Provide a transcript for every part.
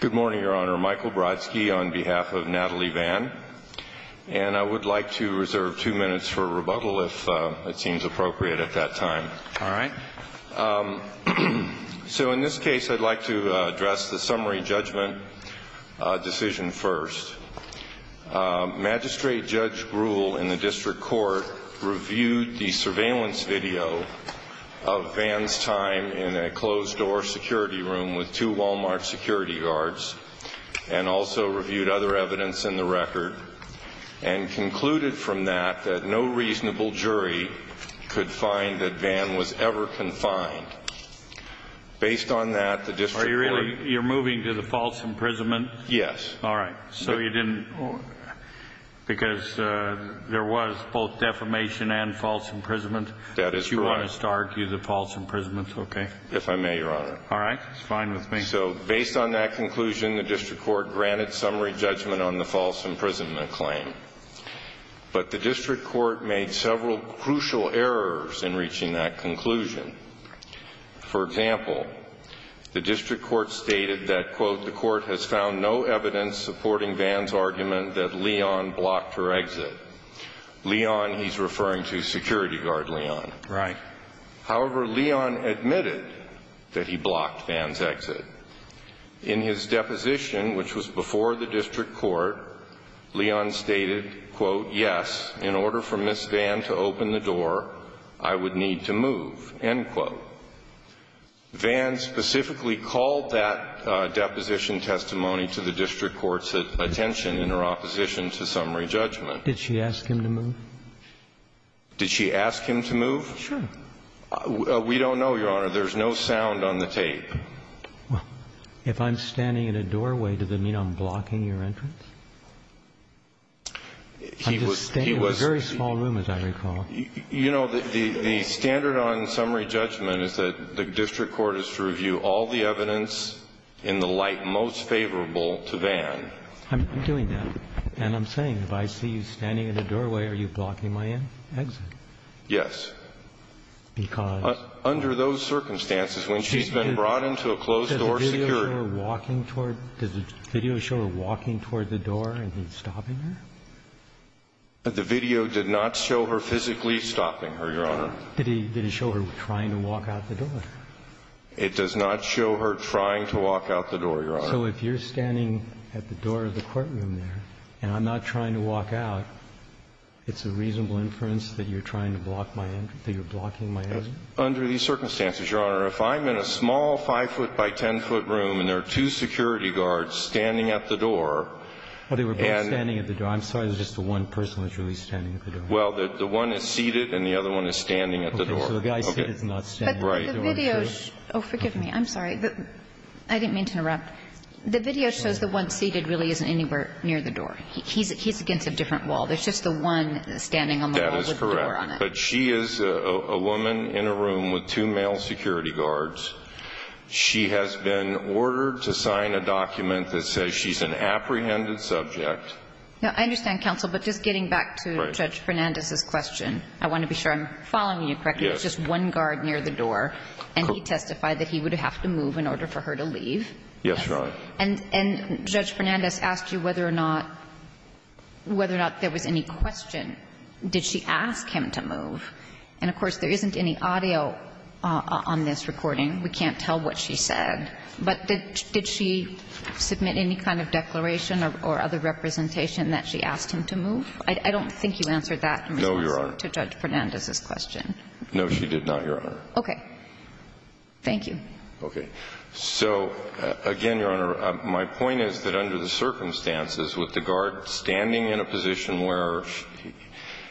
Good morning, Your Honor. Michael Brodsky on behalf of Nathalie Van and I would like to reserve two minutes for rebuttal if it seems appropriate at that time. All right. So in this case I'd like to address the summary judgment decision first. Magistrate Judge Gruhl in the District Court reviewed the surveillance video of Van's time in a closed-door security room with two Wal-Mart security guards and also reviewed other evidence in the record and concluded from that that no reasonable jury could find that Van was ever confined. Based on that the District Court... Are you really... you're moving to the false imprisonment? Yes. All right. So you want us to argue the false imprisonment's okay? If I may, Your Honor. All right. It's fine with me. So based on that conclusion the District Court granted summary judgment on the false imprisonment claim. But the District Court made several crucial errors in reaching that conclusion. For example, the District Court stated that, quote, the court has found no evidence supporting Van's argument that Leon blocked her exit. Leon, he's referring to security guard Leon. Right. However, Leon admitted that he blocked Van's exit. In his deposition, which was before the District Court, Leon stated, quote, yes, in order for Ms. Van to open the door I would need to move, end quote. Van specifically called that deposition testimony to the District Court's attention in her opposition to summary judgment. Did she ask him to move? Did she ask him to move? Sure. We don't know, Your Honor. There's no sound on the tape. If I'm standing in a doorway, does it mean I'm blocking your entrance? I'm just standing in a very small room, as I recall. You know, the standard on summary judgment is that the District Court is to review all the evidence in the light most favorable to Van. I'm doing that. And I'm saying if I see you standing in a doorway, are you blocking my exit? Yes. Because? Under those circumstances, when she's been brought into a closed-door security. Does the video show her walking toward the door and he's stopping her? The video did not show her physically stopping her, Your Honor. Did he show her trying to walk out the door? It does not show her trying to walk out the door, Your Honor. So if you're standing at the door of the courtroom there, and I'm not trying to walk out, it's a reasonable inference that you're trying to block my entrance, that you're blocking my exit? Under these circumstances, Your Honor, if I'm in a small 5-foot by 10-foot room and there are two security guards standing at the door, and they were both standing at the door, I'm sorry, there's just the one person that's really standing at the door. Well, the one is seated and the other one is standing at the door. Okay. So the guy seated is not standing at the door. Right. Oh, forgive me. I'm sorry. I didn't mean to interrupt. The video shows the one seated really isn't anywhere near the door. He's against a different wall. There's just the one standing on the wall with the door on it. That is correct. But she is a woman in a room with two male security guards. She has been ordered to sign a document that says she's an apprehended subject. Now, I understand, counsel, but just getting back to Judge Fernandez's question, I want to be sure I'm following you correctly. Yes. There's just one guard near the door, and he testified that he would have to move in order for her to leave. Yes, Your Honor. And Judge Fernandez asked you whether or not there was any question, did she ask him to move? And, of course, there isn't any audio on this recording. We can't tell what she said, but did she submit any kind of declaration or other representation that she asked him to move? I don't think you answered that in response to Judge Fernandez's question. No, she did not, Your Honor. Okay. Thank you. Okay. So, again, Your Honor, my point is that under the circumstances with the guard standing in a position where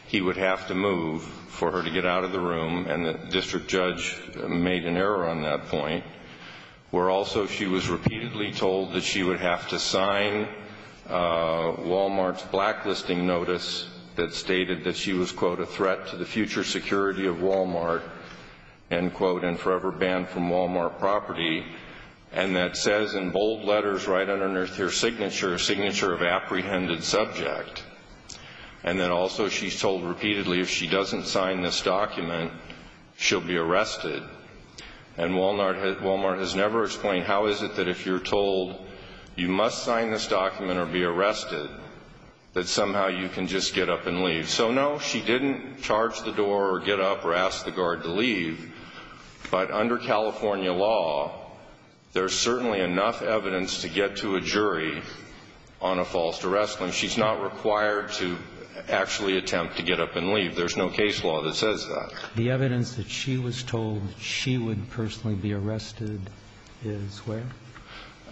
he would have to move for her to get out of the room, and the district judge made an error on that point, where also she was repeatedly told that she would have to sign Walmart's blacklisting notice that stated that she was, quote, a threat to the future security of Walmart, end quote, and forever banned from Walmart property. And that says in bold letters right under her signature, a signature of apprehended subject. And then also she's told repeatedly if she doesn't sign this document, she'll be arrested. And Walmart has never explained how is it that if you're told you must sign this document or you're going to be arrested, that somehow you can just get up and leave. So, no, she didn't charge the door or get up or ask the guard to leave. But under California law, there's certainly enough evidence to get to a jury on a false arrest. And she's not required to actually attempt to get up and leave. There's no case law that says that. The evidence that she was told she would personally be arrested is where?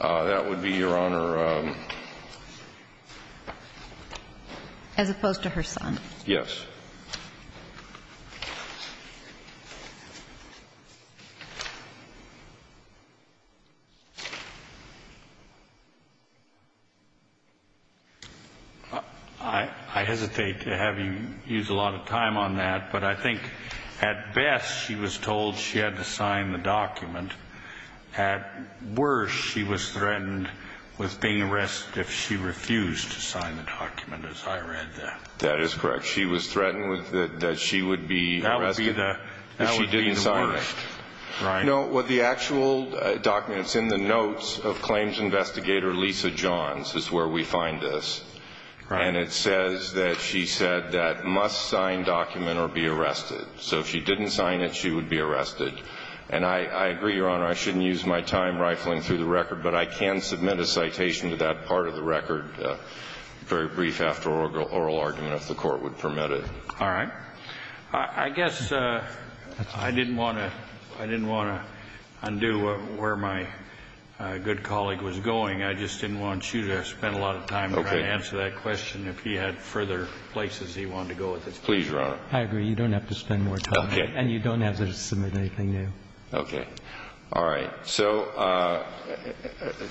That would be, Your Honor. As opposed to her son? Yes. I hesitate to have you use a lot of time on that. But I think at best, she was told she had to sign the document. At worst, she was threatened with being arrested if she refused to sign the document, as I read that. That is correct. She was threatened that she would be arrested if she didn't sign it. That would be the worst, right? No, what the actual documents in the notes of claims investigator Lisa Johns is where we find this. And it says that she said that must sign document or be arrested. So if she didn't sign it, she would be arrested. And I agree, Your Honor, I shouldn't use my time rifling through the record. But I can submit a citation to that part of the record, very brief after oral argument, if the Court would permit it. All right. I guess I didn't want to undo where my good colleague was going. I just didn't want you to spend a lot of time trying to answer that question if he had further places he wanted to go with this case. Please, Your Honor. I agree. You don't have to spend more time. Okay. And you don't have to submit anything new. Okay. All right. So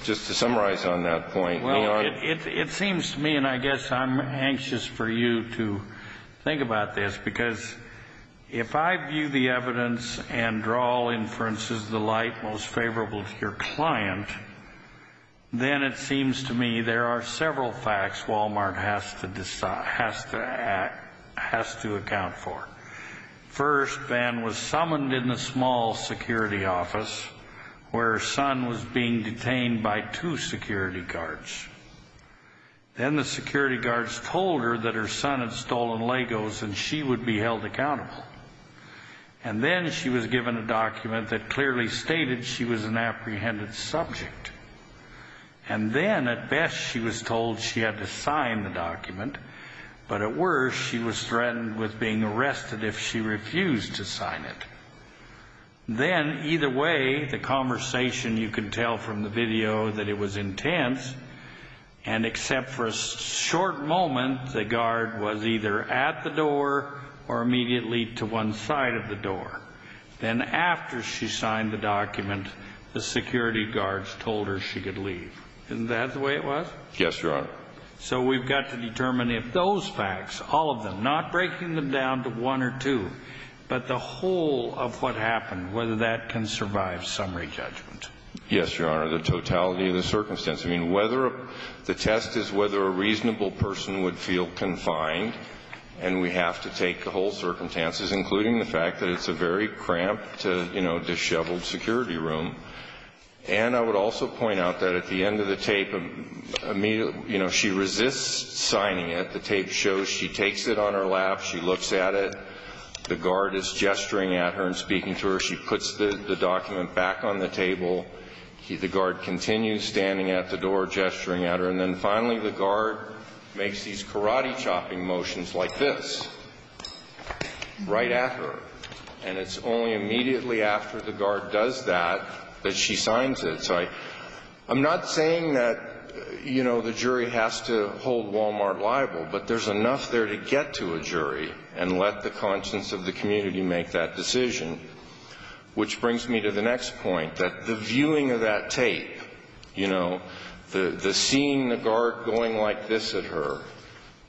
just to summarize on that point, Your Honor. It seems to me, and I guess I'm anxious for you to think about this, because if I view the evidence and draw inferences the light most favorable to your client, then it seems to me there are several facts Walmart has to account for. First, Van was summoned in the small security office where her son was being detained by two security guards. Then the security guards told her that her son had stolen Legos and she would be held accountable. And then she was given a document that clearly stated she was an apprehended subject. And then, at best, she was told she had to sign the document, but at worst, she was threatened with being arrested if she refused to sign it. Then, either way, the conversation, you can tell from the video that it was intense, and except for a short moment, the guard was either at the door or immediately to one side of the door. Then after she signed the document, the security guards told her she could leave. Isn't that the way it was? Yes, Your Honor. So we've got to determine if those facts, all of them, not breaking them down to one or two, but the whole of what happened, whether that can survive summary judgment. Yes, Your Honor. The totality of the circumstance. I mean, the test is whether a reasonable person would feel confined, and we have to take the whole circumstances, including the fact that it's a very cramped, disheveled security room. And I would also point out that at the end of the tape, she resists signing it. The tape shows she takes it on her lap. She looks at it. The guard is gesturing at her and speaking to her. She puts the document back on the table. The guard continues standing at the door, gesturing at her. And then finally, the guard makes these karate chopping motions like this right at her. And it's only immediately after the guard does that that she signs it. So I'm not saying that, you know, the jury has to hold Walmart liable, but there's enough there to get to a jury and let the conscience of the community make that decision. Which brings me to the next point, that the viewing of that tape, you know, the seeing the guard going like this at her,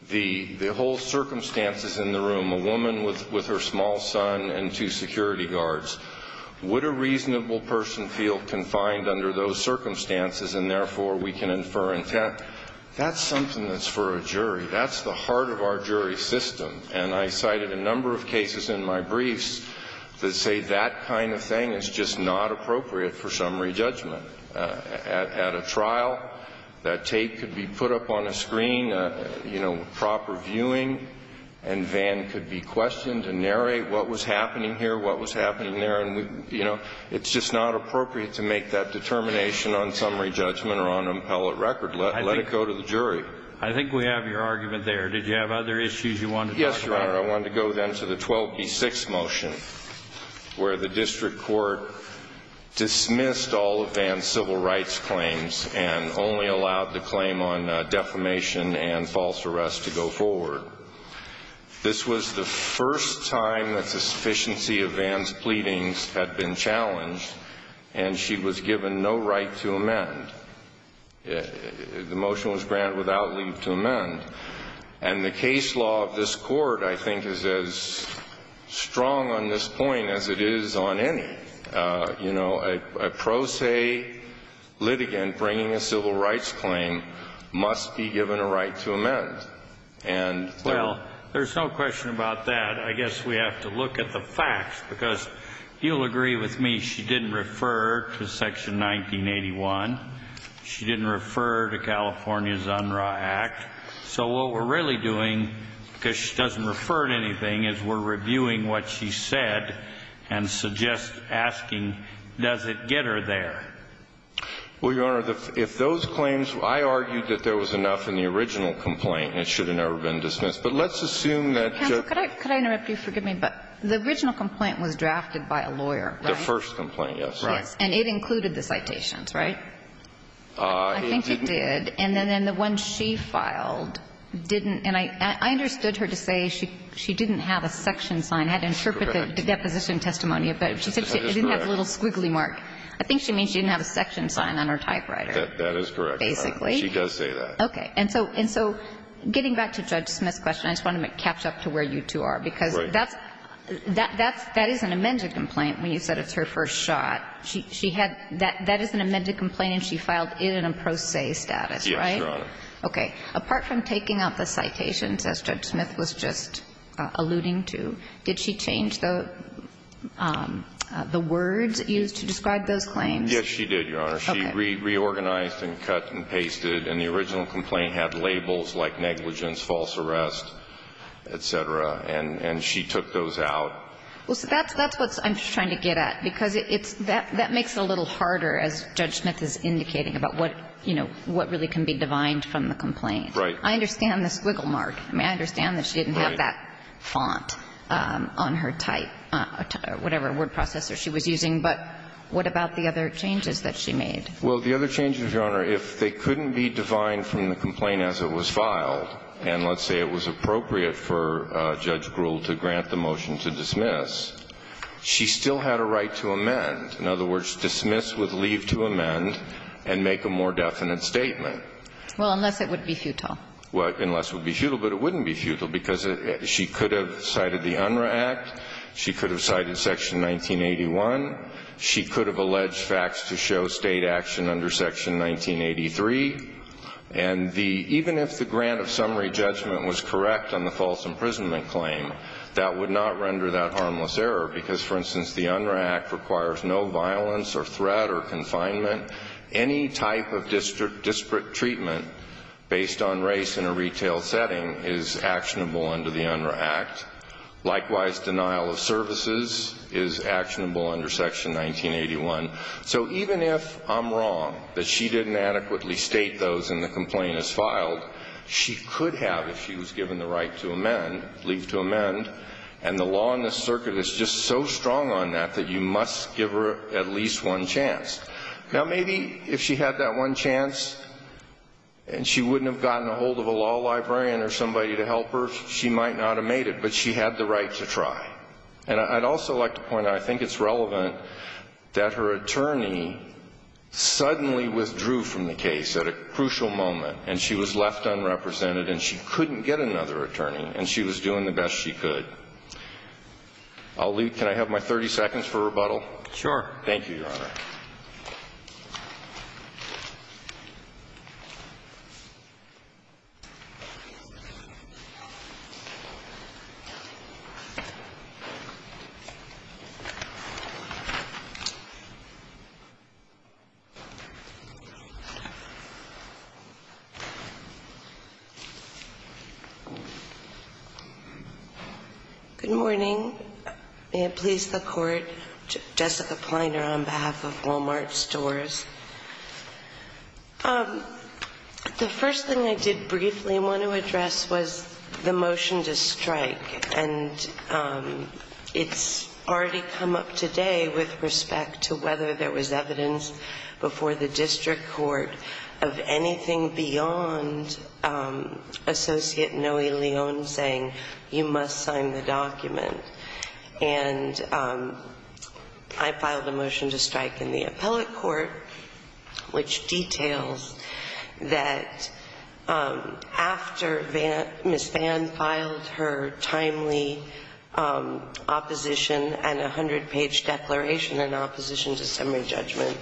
the whole circumstances in the room, a woman with her small son and two security guards. Would a reasonable person feel confined under those circumstances, and therefore, we can infer intent? That's something that's for a jury. That's the heart of our jury system. And I cited a number of cases in my briefs that say that kind of thing is just not appropriate for summary judgment. At a trial, that tape could be put up on a screen, you know, proper viewing, and Van could be questioned and narrate what was happening here, what was happening there. And, you know, it's just not appropriate to make that determination on summary judgment or on an appellate record. Let it go to the jury. I think we have your argument there. Did you have other issues you wanted to talk about? Yes, Your Honor. I wanted to go then to the 12B6 motion, where the district court dismissed all of Van's civil rights claims and only allowed the claim on defamation and false arrest to go forward. This was the first time that sufficiency of Van's pleadings had been challenged, and she was given no right to amend. The motion was granted without leave to amend. And the case law of this Court, I think, is as strong on this point as it is on any. You know, a pro se litigant bringing a civil rights claim must be given a right to amend. And there's no question about that. I guess we have to look at the facts, because you'll agree with me, she didn't refer to Section 1981. She didn't refer to California's Unruh Act. So what we're really doing, because she doesn't refer to anything, is we're reviewing what she said and suggest asking, does it get her there? Well, Your Honor, if those claims – I argued that there was enough in the original complaint and it should have never been dismissed. But let's assume that – Counsel, could I interrupt you? Forgive me. But the original complaint was drafted by a lawyer, right? The first complaint, yes. Right. And it included the citations, right? I think it did. And then the one she filed didn't – and I understood her to say she didn't have a section sign. I had to interpret the deposition testimony, but she said she didn't have a little squiggly mark. I think she means she didn't have a section sign on her typewriter. That is correct. Basically. She does say that. Okay. And so getting back to Judge Smith's question, I just want to catch up to where you two are. Right. Because that's – that is an amended complaint when you said it's her first shot. She had – that is an amended complaint and she filed it in a pro se status, right? Yes, Your Honor. Okay. Apart from taking out the citations, as Judge Smith was just alluding to, did she change the words used to describe those claims? Yes, she did, Your Honor. Okay. She reorganized and cut and pasted. And the original complaint had labels like negligence, false arrest, et cetera. And she took those out. Well, so that's – that's what I'm trying to get at. Because it's – that makes it a little harder, as Judge Smith is indicating, about what, you know, what really can be divined from the complaint. Right. I understand the squiggle mark. I mean, I understand that she didn't have that font on her type – whatever word processor she was using. But what about the other changes that she made? Well, the other changes, Your Honor, if they couldn't be divined from the complaint as it was filed, and let's say it was appropriate for Judge Gruhl to grant the motion to dismiss, she still had a right to amend. In other words, dismiss with leave to amend and make a more definite statement. Well, unless it would be futile. Well, unless it would be futile. But it wouldn't be futile, because she could have cited the UNRRA Act. She could have cited Section 1981. She could have alleged facts to show state action under Section 1983. And the – even if the grant of summary judgment was correct on the false imprisonment claim, that would not render that harmless error, because, for instance, the UNRRA Act requires no violence or threat or confinement. Any type of disparate treatment based on race in a retail setting is actionable under the UNRRA Act. Likewise, denial of services is actionable under Section 1981. So even if I'm wrong that she didn't adequately state those in the complaint as and the law in this circuit is just so strong on that that you must give her at least one chance. Now, maybe if she had that one chance and she wouldn't have gotten a hold of a law librarian or somebody to help her, she might not have made it. But she had the right to try. And I'd also like to point out, I think it's relevant that her attorney suddenly withdrew from the case at a crucial moment. And she was left unrepresented. And she couldn't get another attorney. And she was doing the best she could. I'll leave. Can I have my 30 seconds for rebuttal? Good morning. May it please the Court. Jessica Plyner on behalf of Walmart Stores. The first thing I did briefly want to address was the motion to strike. And it's already come up today with respect to whether there was evidence before the saying, you must sign the document. And I filed a motion to strike in the appellate court, which details that after Ms. Vann filed her timely opposition and 100-page declaration in opposition to summary judgment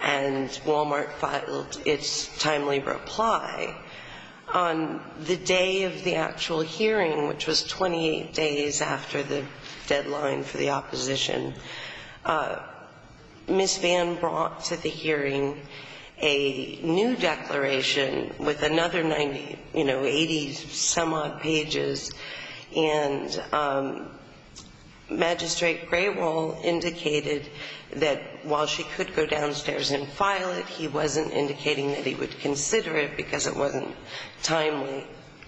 and Walmart filed its timely reply, on the day of the actual hearing, which was 28 days after the deadline for the opposition, Ms. Vann brought to the hearing a new declaration with another 90, you know, 80-some-odd pages. And Magistrate Grewal indicated that while she could go downstairs and file it, he wasn't indicating that he would consider it because it wasn't timely.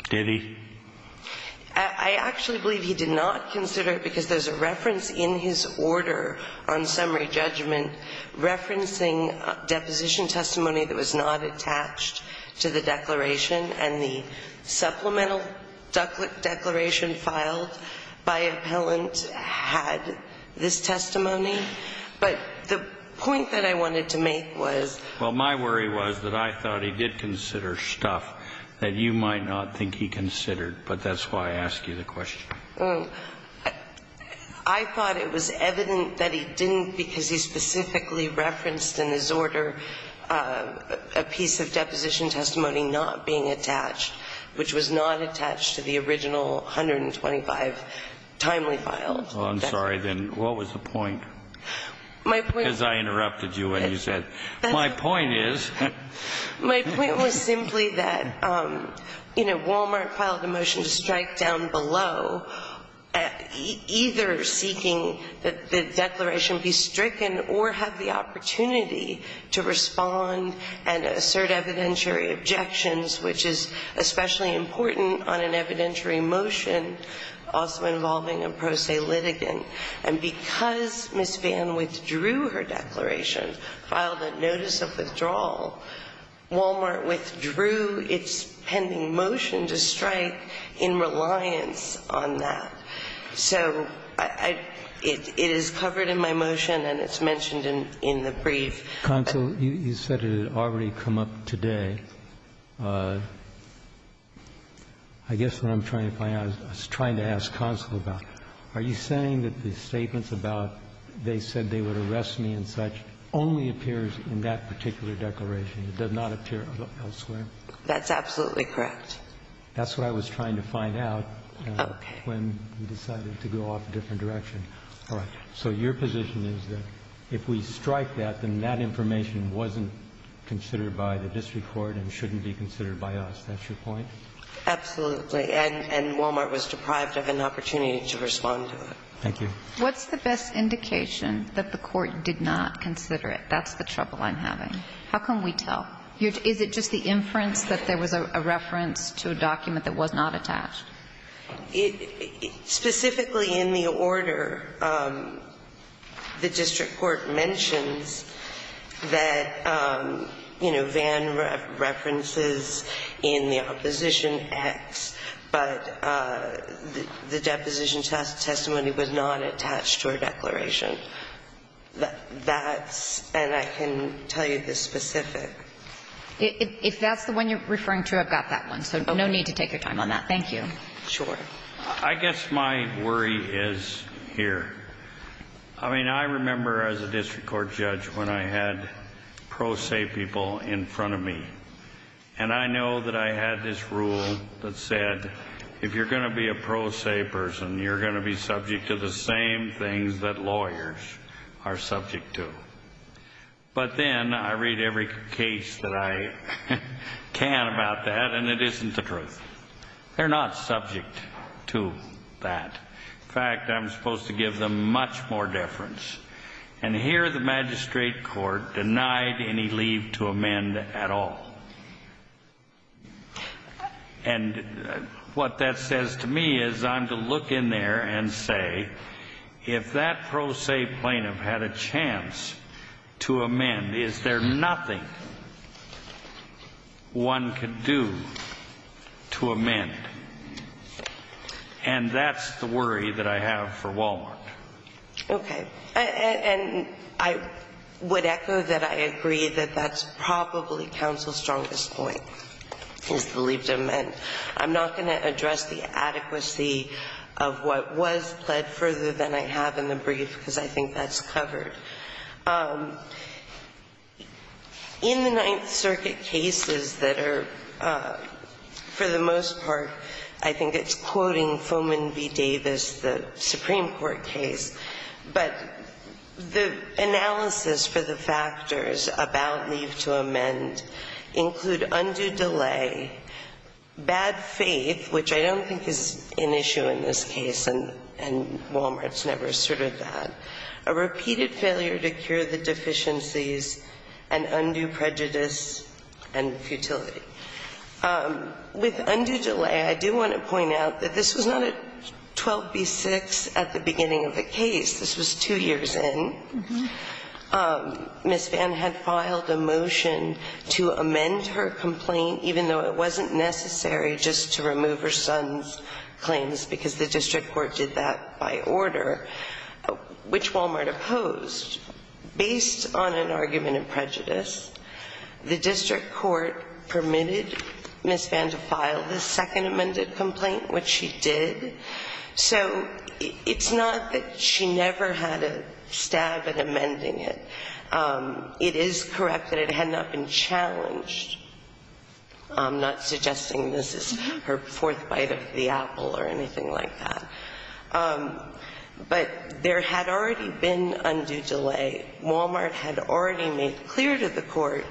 Did he? I actually believe he did not consider it because there's a reference in his order on summary judgment referencing deposition testimony that was not attached to the declaration. And the supplemental declaration filed by appellant had this testimony. But the point that I wanted to make was... Well, my worry was that I thought he did consider stuff that you might not think he considered. But that's why I ask you the question. Well, I thought it was evident that he didn't because he specifically referenced in his order a piece of deposition testimony not being attached, which was not attached to the original 125 timely filed. Well, I'm sorry. Then what was the point? My point... As I interrupted you when you said, my point is... My point was simply that Walmart filed a motion to strike down below, either seeking that the declaration be stricken or have the opportunity to respond and assert evidentiary objections, which is especially important on an evidentiary motion also involving a pro se litigant. And because Ms. Vann withdrew her declaration, filed a notice of withdrawal, Walmart withdrew its pending motion to strike in reliance on that. So it is covered in my motion and it's mentioned in the brief. Counsel, you said it had already come up today. I guess what I'm trying to find out, I was trying to ask counsel about it. Are you saying that the statements about they said they would arrest me and such only appears in that particular declaration? It does not appear elsewhere? That's absolutely correct. That's what I was trying to find out when we decided to go off a different direction. All right. So your position is that if we strike that, then that information wasn't considered by the district court and shouldn't be considered by us. That's your point? Absolutely. And Walmart was deprived of an opportunity to respond to it. Thank you. What's the best indication that the court did not consider it? That's the trouble I'm having. How can we tell? Is it just the inference that there was a reference to a document that was not attached? Specifically in the order, the district court mentions that, you know, Vann references in the opposition X, but the deposition testimony was not attached to our declaration. That's, and I can tell you the specific. If that's the one you're referring to, I've got that one. So no need to take your time on that. Thank you. Sure. I guess my worry is here. I mean, I remember as a district court judge when I had pro se people in front of me and I know that I had this rule that said, if you're going to be a pro se person, you're going to be subject to the same things that lawyers are subject to. But then I read every case that I can about that and it isn't the truth. They're not subject to that. In fact, I'm supposed to give them much more deference. And here the magistrate court denied any leave to amend at all. And what that says to me is I'm to look in there and say, if that pro se plaintiff had a chance to amend, is there nothing one could do to amend? And that's the worry that I have for Walmart. Okay. And I would echo that I agree that that's probably counsel's strongest point, is the leave to amend. I'm not going to address the adequacy of what was pled further than I have in the brief, because I think that's covered. In the Ninth Circuit cases that are, for the most part, I think it's quoting Foman v. Davis, the Supreme Court case. But the analysis for the factors about leave to amend include undue delay, bad faith, which I don't think is an issue in this case, and Walmart's never asserted that, a repeated failure to cure the deficiencies, an undue prejudice, and futility. With undue delay, I do want to point out that this was not a 12B6 at the beginning of the case. This was two years in. Ms. Vann had filed a motion to amend her complaint, even though it wasn't necessary just to remove her son's claims, because the district court did that by order, which Walmart opposed. Based on an argument of prejudice, the district court permitted Ms. Vann to file this second amended complaint, which she did. So it's not that she never had a stab at amending it. It is correct that it had not been challenged. I'm not suggesting this is her fourth bite of the apple or anything like that. But there had already been undue delay. Walmart had already made clear to the court,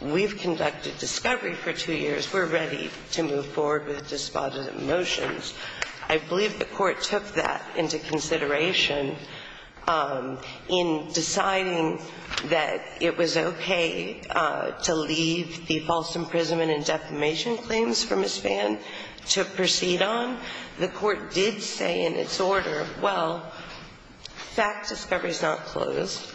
we've conducted discovery for two years. We're ready to move forward with despotism motions. I believe the court took that into consideration in deciding that it was okay to leave the false imprisonment and defamation claims for Ms. Vann to proceed on. The court did say in its order, well, fact discovery is not closed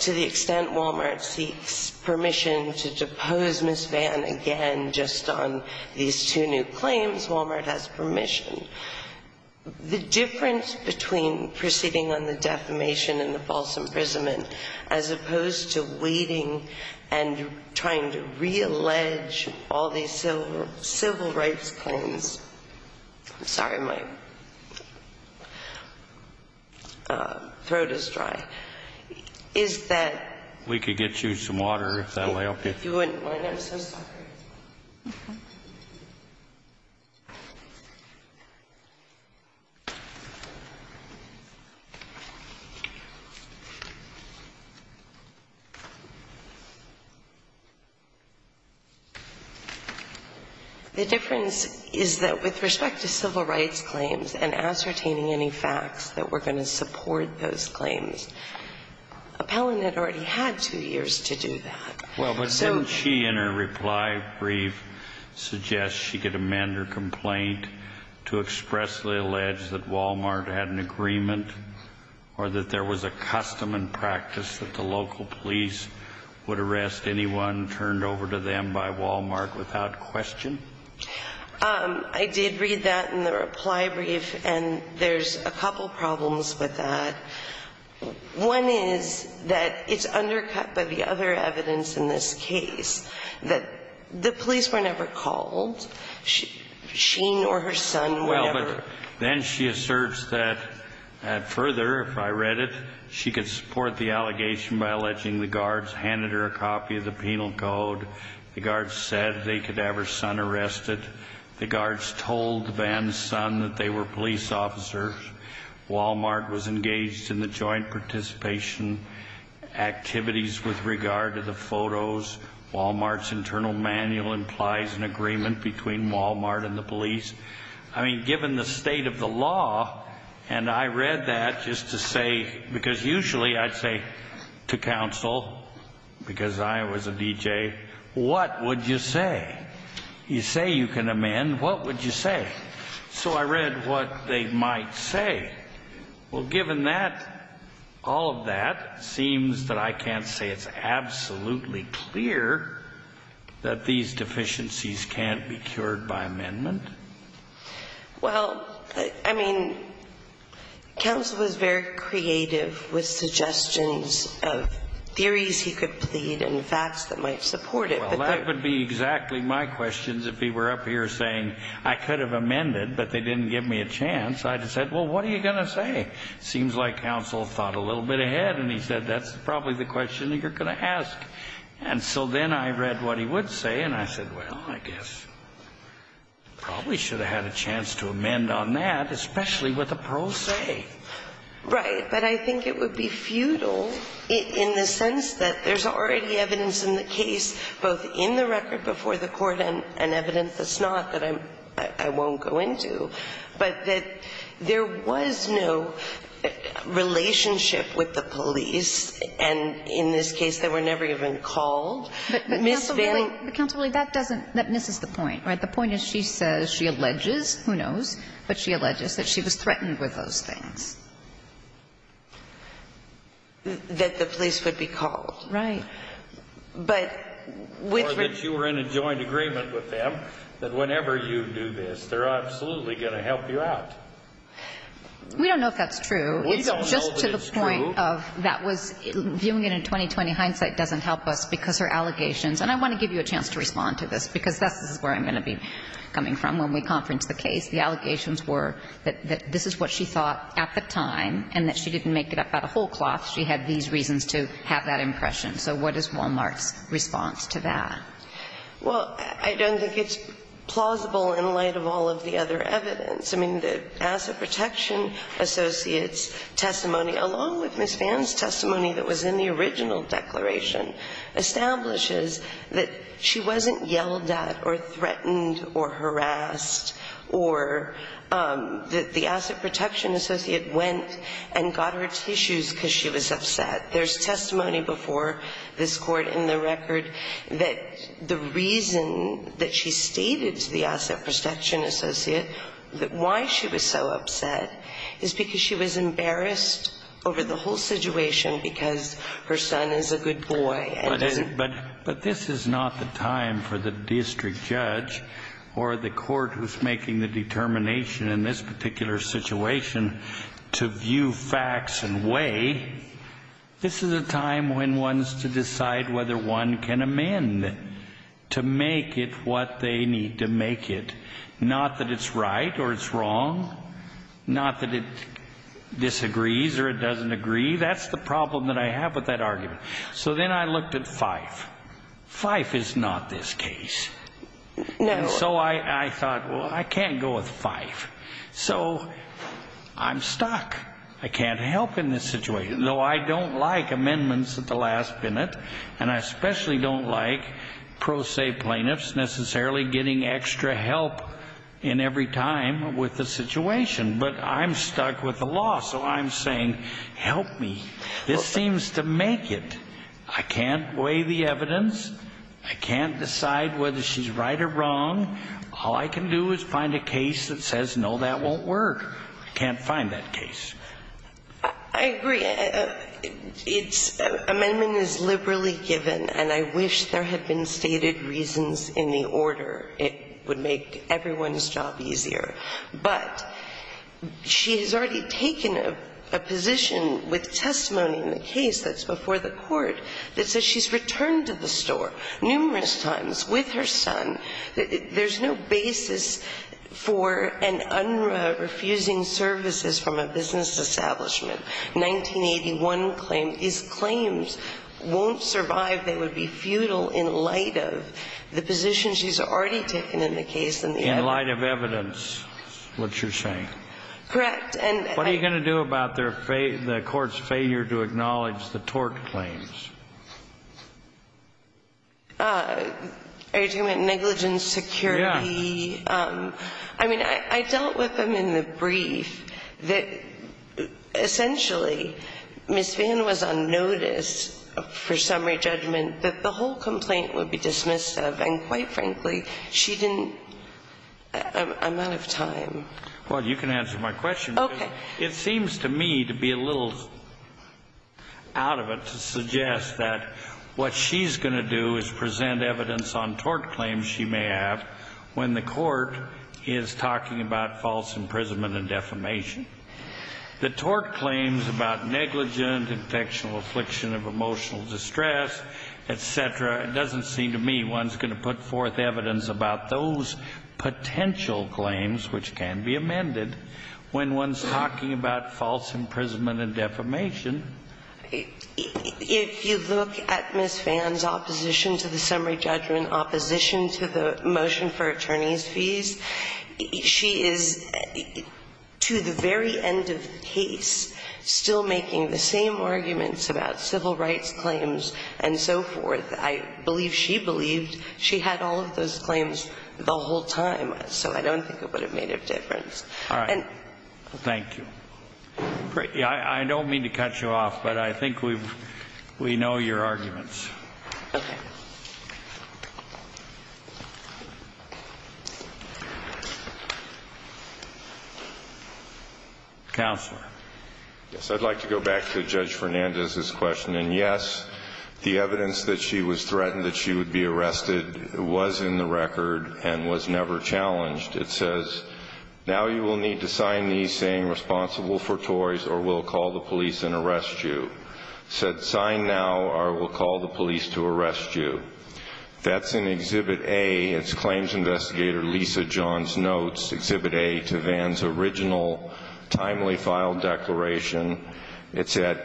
to the extent Walmart seeks permission to depose Ms. Vann again just on these two new claims. Walmart has permission. The difference between proceeding on the defamation and the false imprisonment, as opposed to waiting and trying to reallege all these civil rights claims, sorry, my throat is dry, is that- If we could get you some water, that would help you. You wouldn't mind? I'm so sorry. Okay. The difference is that with respect to civil rights claims and ascertaining any facts that were going to support those claims, Appellant had already had two years to do that. Well, but didn't she, in her reply brief, suggest she could amend her complaint to expressly allege that Walmart had an agreement or that there was a custom and practice that the local police would arrest anyone turned over to them by Walmart without question? I did read that in the reply brief, and there's a couple problems with that. One is that it's undercut by the other evidence in this case, that the police were never called. She nor her son were never- Well, but then she asserts that, further, if I read it, she could support the allegation by alleging the guards handed her a copy of the penal code, the guards said they could have her son arrested, the guards told Vann's son that they were police officers, Walmart was engaged in the joint participation activities with regard to the photos, Walmart's internal manual implies an agreement between Walmart and the police. I mean, given the state of the law, and I read that just to say, because usually I'd say to counsel, because I was a DJ, what would you say? You say you can amend, what would you say? So I read what they might say. Well, given that, all of that, it seems that I can't say it's absolutely clear that these deficiencies can't be cured by amendment. Well, I mean, counsel was very creative with suggestions of theories he could plead and facts that might support it. Well, that would be exactly my questions if he were up here saying, I could have amended, but they didn't give me a chance. I just said, well, what are you going to say? Seems like counsel thought a little bit ahead, and he said, that's probably the question you're going to ask. And so then I read what he would say, and I said, well, I guess probably should have had a chance to amend on that, especially with a pro se. Right. But I think it would be futile in the sense that there's already evidence in the case, both in the record before the Court and evidence that's not, that I won't go into, but that there was no relationship with the police, and in this case, they were never even called. But, counsel, really, that misses the point, right? The point is she says, she alleges, who knows, but she alleges that she was threatened with those things. That the police would be called. Right. Or that you were in a joint agreement with them, that whenever you do this, they're absolutely going to help you out. We don't know if that's true. We don't know if it's true. It's just to the point of that was, viewing it in 20-20 hindsight doesn't help us, because her allegations, and I want to give you a chance to respond to this, because this is where I'm going to be coming from when we conference the case. The allegations were that this is what she thought at the time, and that she didn't make it up out of whole cloth. She had these reasons to have that impression. So what is Walmart's response to that? Well, I don't think it's plausible in light of all of the other evidence. I mean, the Asset Protection Associate's testimony, along with Ms. Vann's testimony that was in the original declaration, establishes that she wasn't yelled at or threatened or harassed or that the Asset Protection Associate went and got her tissues because she was upset. There's testimony before this Court in the record that the reason that she stated to the Asset Protection Associate that why she was so upset is because she was embarrassed over the whole situation because her son is a good boy. But this is not the time for the district judge or the court who's making the determination in this particular situation to view facts and weigh. This is a time when one's to decide whether one can amend to make it what they need to make it, not that it's right or it's wrong, not that it disagrees or it doesn't agree. That's the problem that I have with that argument. So then I looked at Fife. Fife is not this case. And so I thought, well, I can't go with Fife. So I'm stuck. I can't help in this situation, though I don't like amendments at the last minute, and I especially don't like pro se plaintiffs necessarily getting extra help in every time with the situation. But I'm stuck with the law. So I'm saying, help me. This seems to make it. I can't weigh the evidence. I can't decide whether she's right or wrong. All I can do is find a case that says, no, that won't work. I can't find that case. I agree. Amendment is liberally given, and I wish there had been stated reasons in the order. It would make everyone's job easier. But she has already taken a position with testimony in the case that's before the court that says she's returned to the store numerous times with her son. There's no basis for an unrefusing services from a business establishment. 1981 claim. These claims won't survive. They would be futile in light of the position she's already taken in the case. In light of evidence, what you're saying. Correct. And what are you going to do about the court's failure to acknowledge the tort claims? Are you talking about negligence, security? Yeah. I mean, I dealt with them in the brief that essentially Ms. Vann was on notice for summary judgment that the whole complaint would be dismissed of. Quite frankly, she didn't. I'm out of time. Well, you can answer my question. Okay. It seems to me to be a little out of it to suggest that what she's going to do is present evidence on tort claims she may have when the court is talking about false imprisonment and defamation. The tort claims about negligent, infectional affliction of emotional distress, et cetera. It doesn't seem to me. One's going to put forth evidence about those potential claims, which can be amended when one's talking about false imprisonment and defamation. If you look at Ms. Vann's opposition to the summary judgment, opposition to the motion for attorney's fees, she is, to the very end of the case, still making the same arguments about civil rights claims and so forth. I believe she believed she had all of those claims the whole time, so I don't think it would have made a difference. All right. Thank you. Great. I don't mean to cut you off, but I think we know your arguments. Okay. Counselor. Yes, I'd like to go back to Judge Fernandez's question. Yes, the evidence that she was threatened that she would be arrested was in the record and was never challenged. It says, now you will need to sign these saying responsible for toys or we'll call the police and arrest you. Said sign now or we'll call the police to arrest you. That's in Exhibit A. It's claims investigator Lisa John's notes. Exhibit A to Vann's original timely file declaration. It's at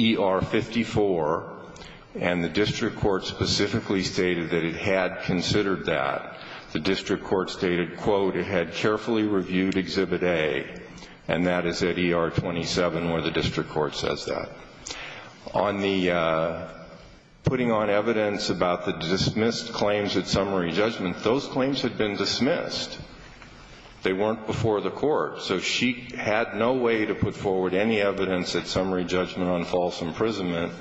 ER 54, and the district court specifically stated that it had considered that. The district court stated, quote, it had carefully reviewed Exhibit A, and that is at ER 27 where the district court says that. On the putting on evidence about the dismissed claims at summary judgment, those They weren't before the court. So she had no way to put forward any evidence at summary judgment on false imprisonment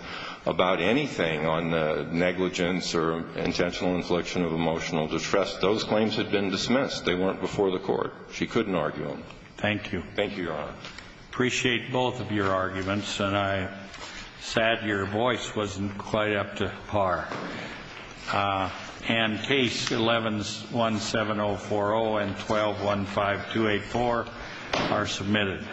about anything on negligence or intentional infliction of emotional distress. Those claims had been dismissed. They weren't before the court. She couldn't argue them. Thank you. Thank you, Your Honor. Appreciate both of your arguments, and I'm sad your voice wasn't quite up to par. And case 11-17040 and 12-15284 are submitted.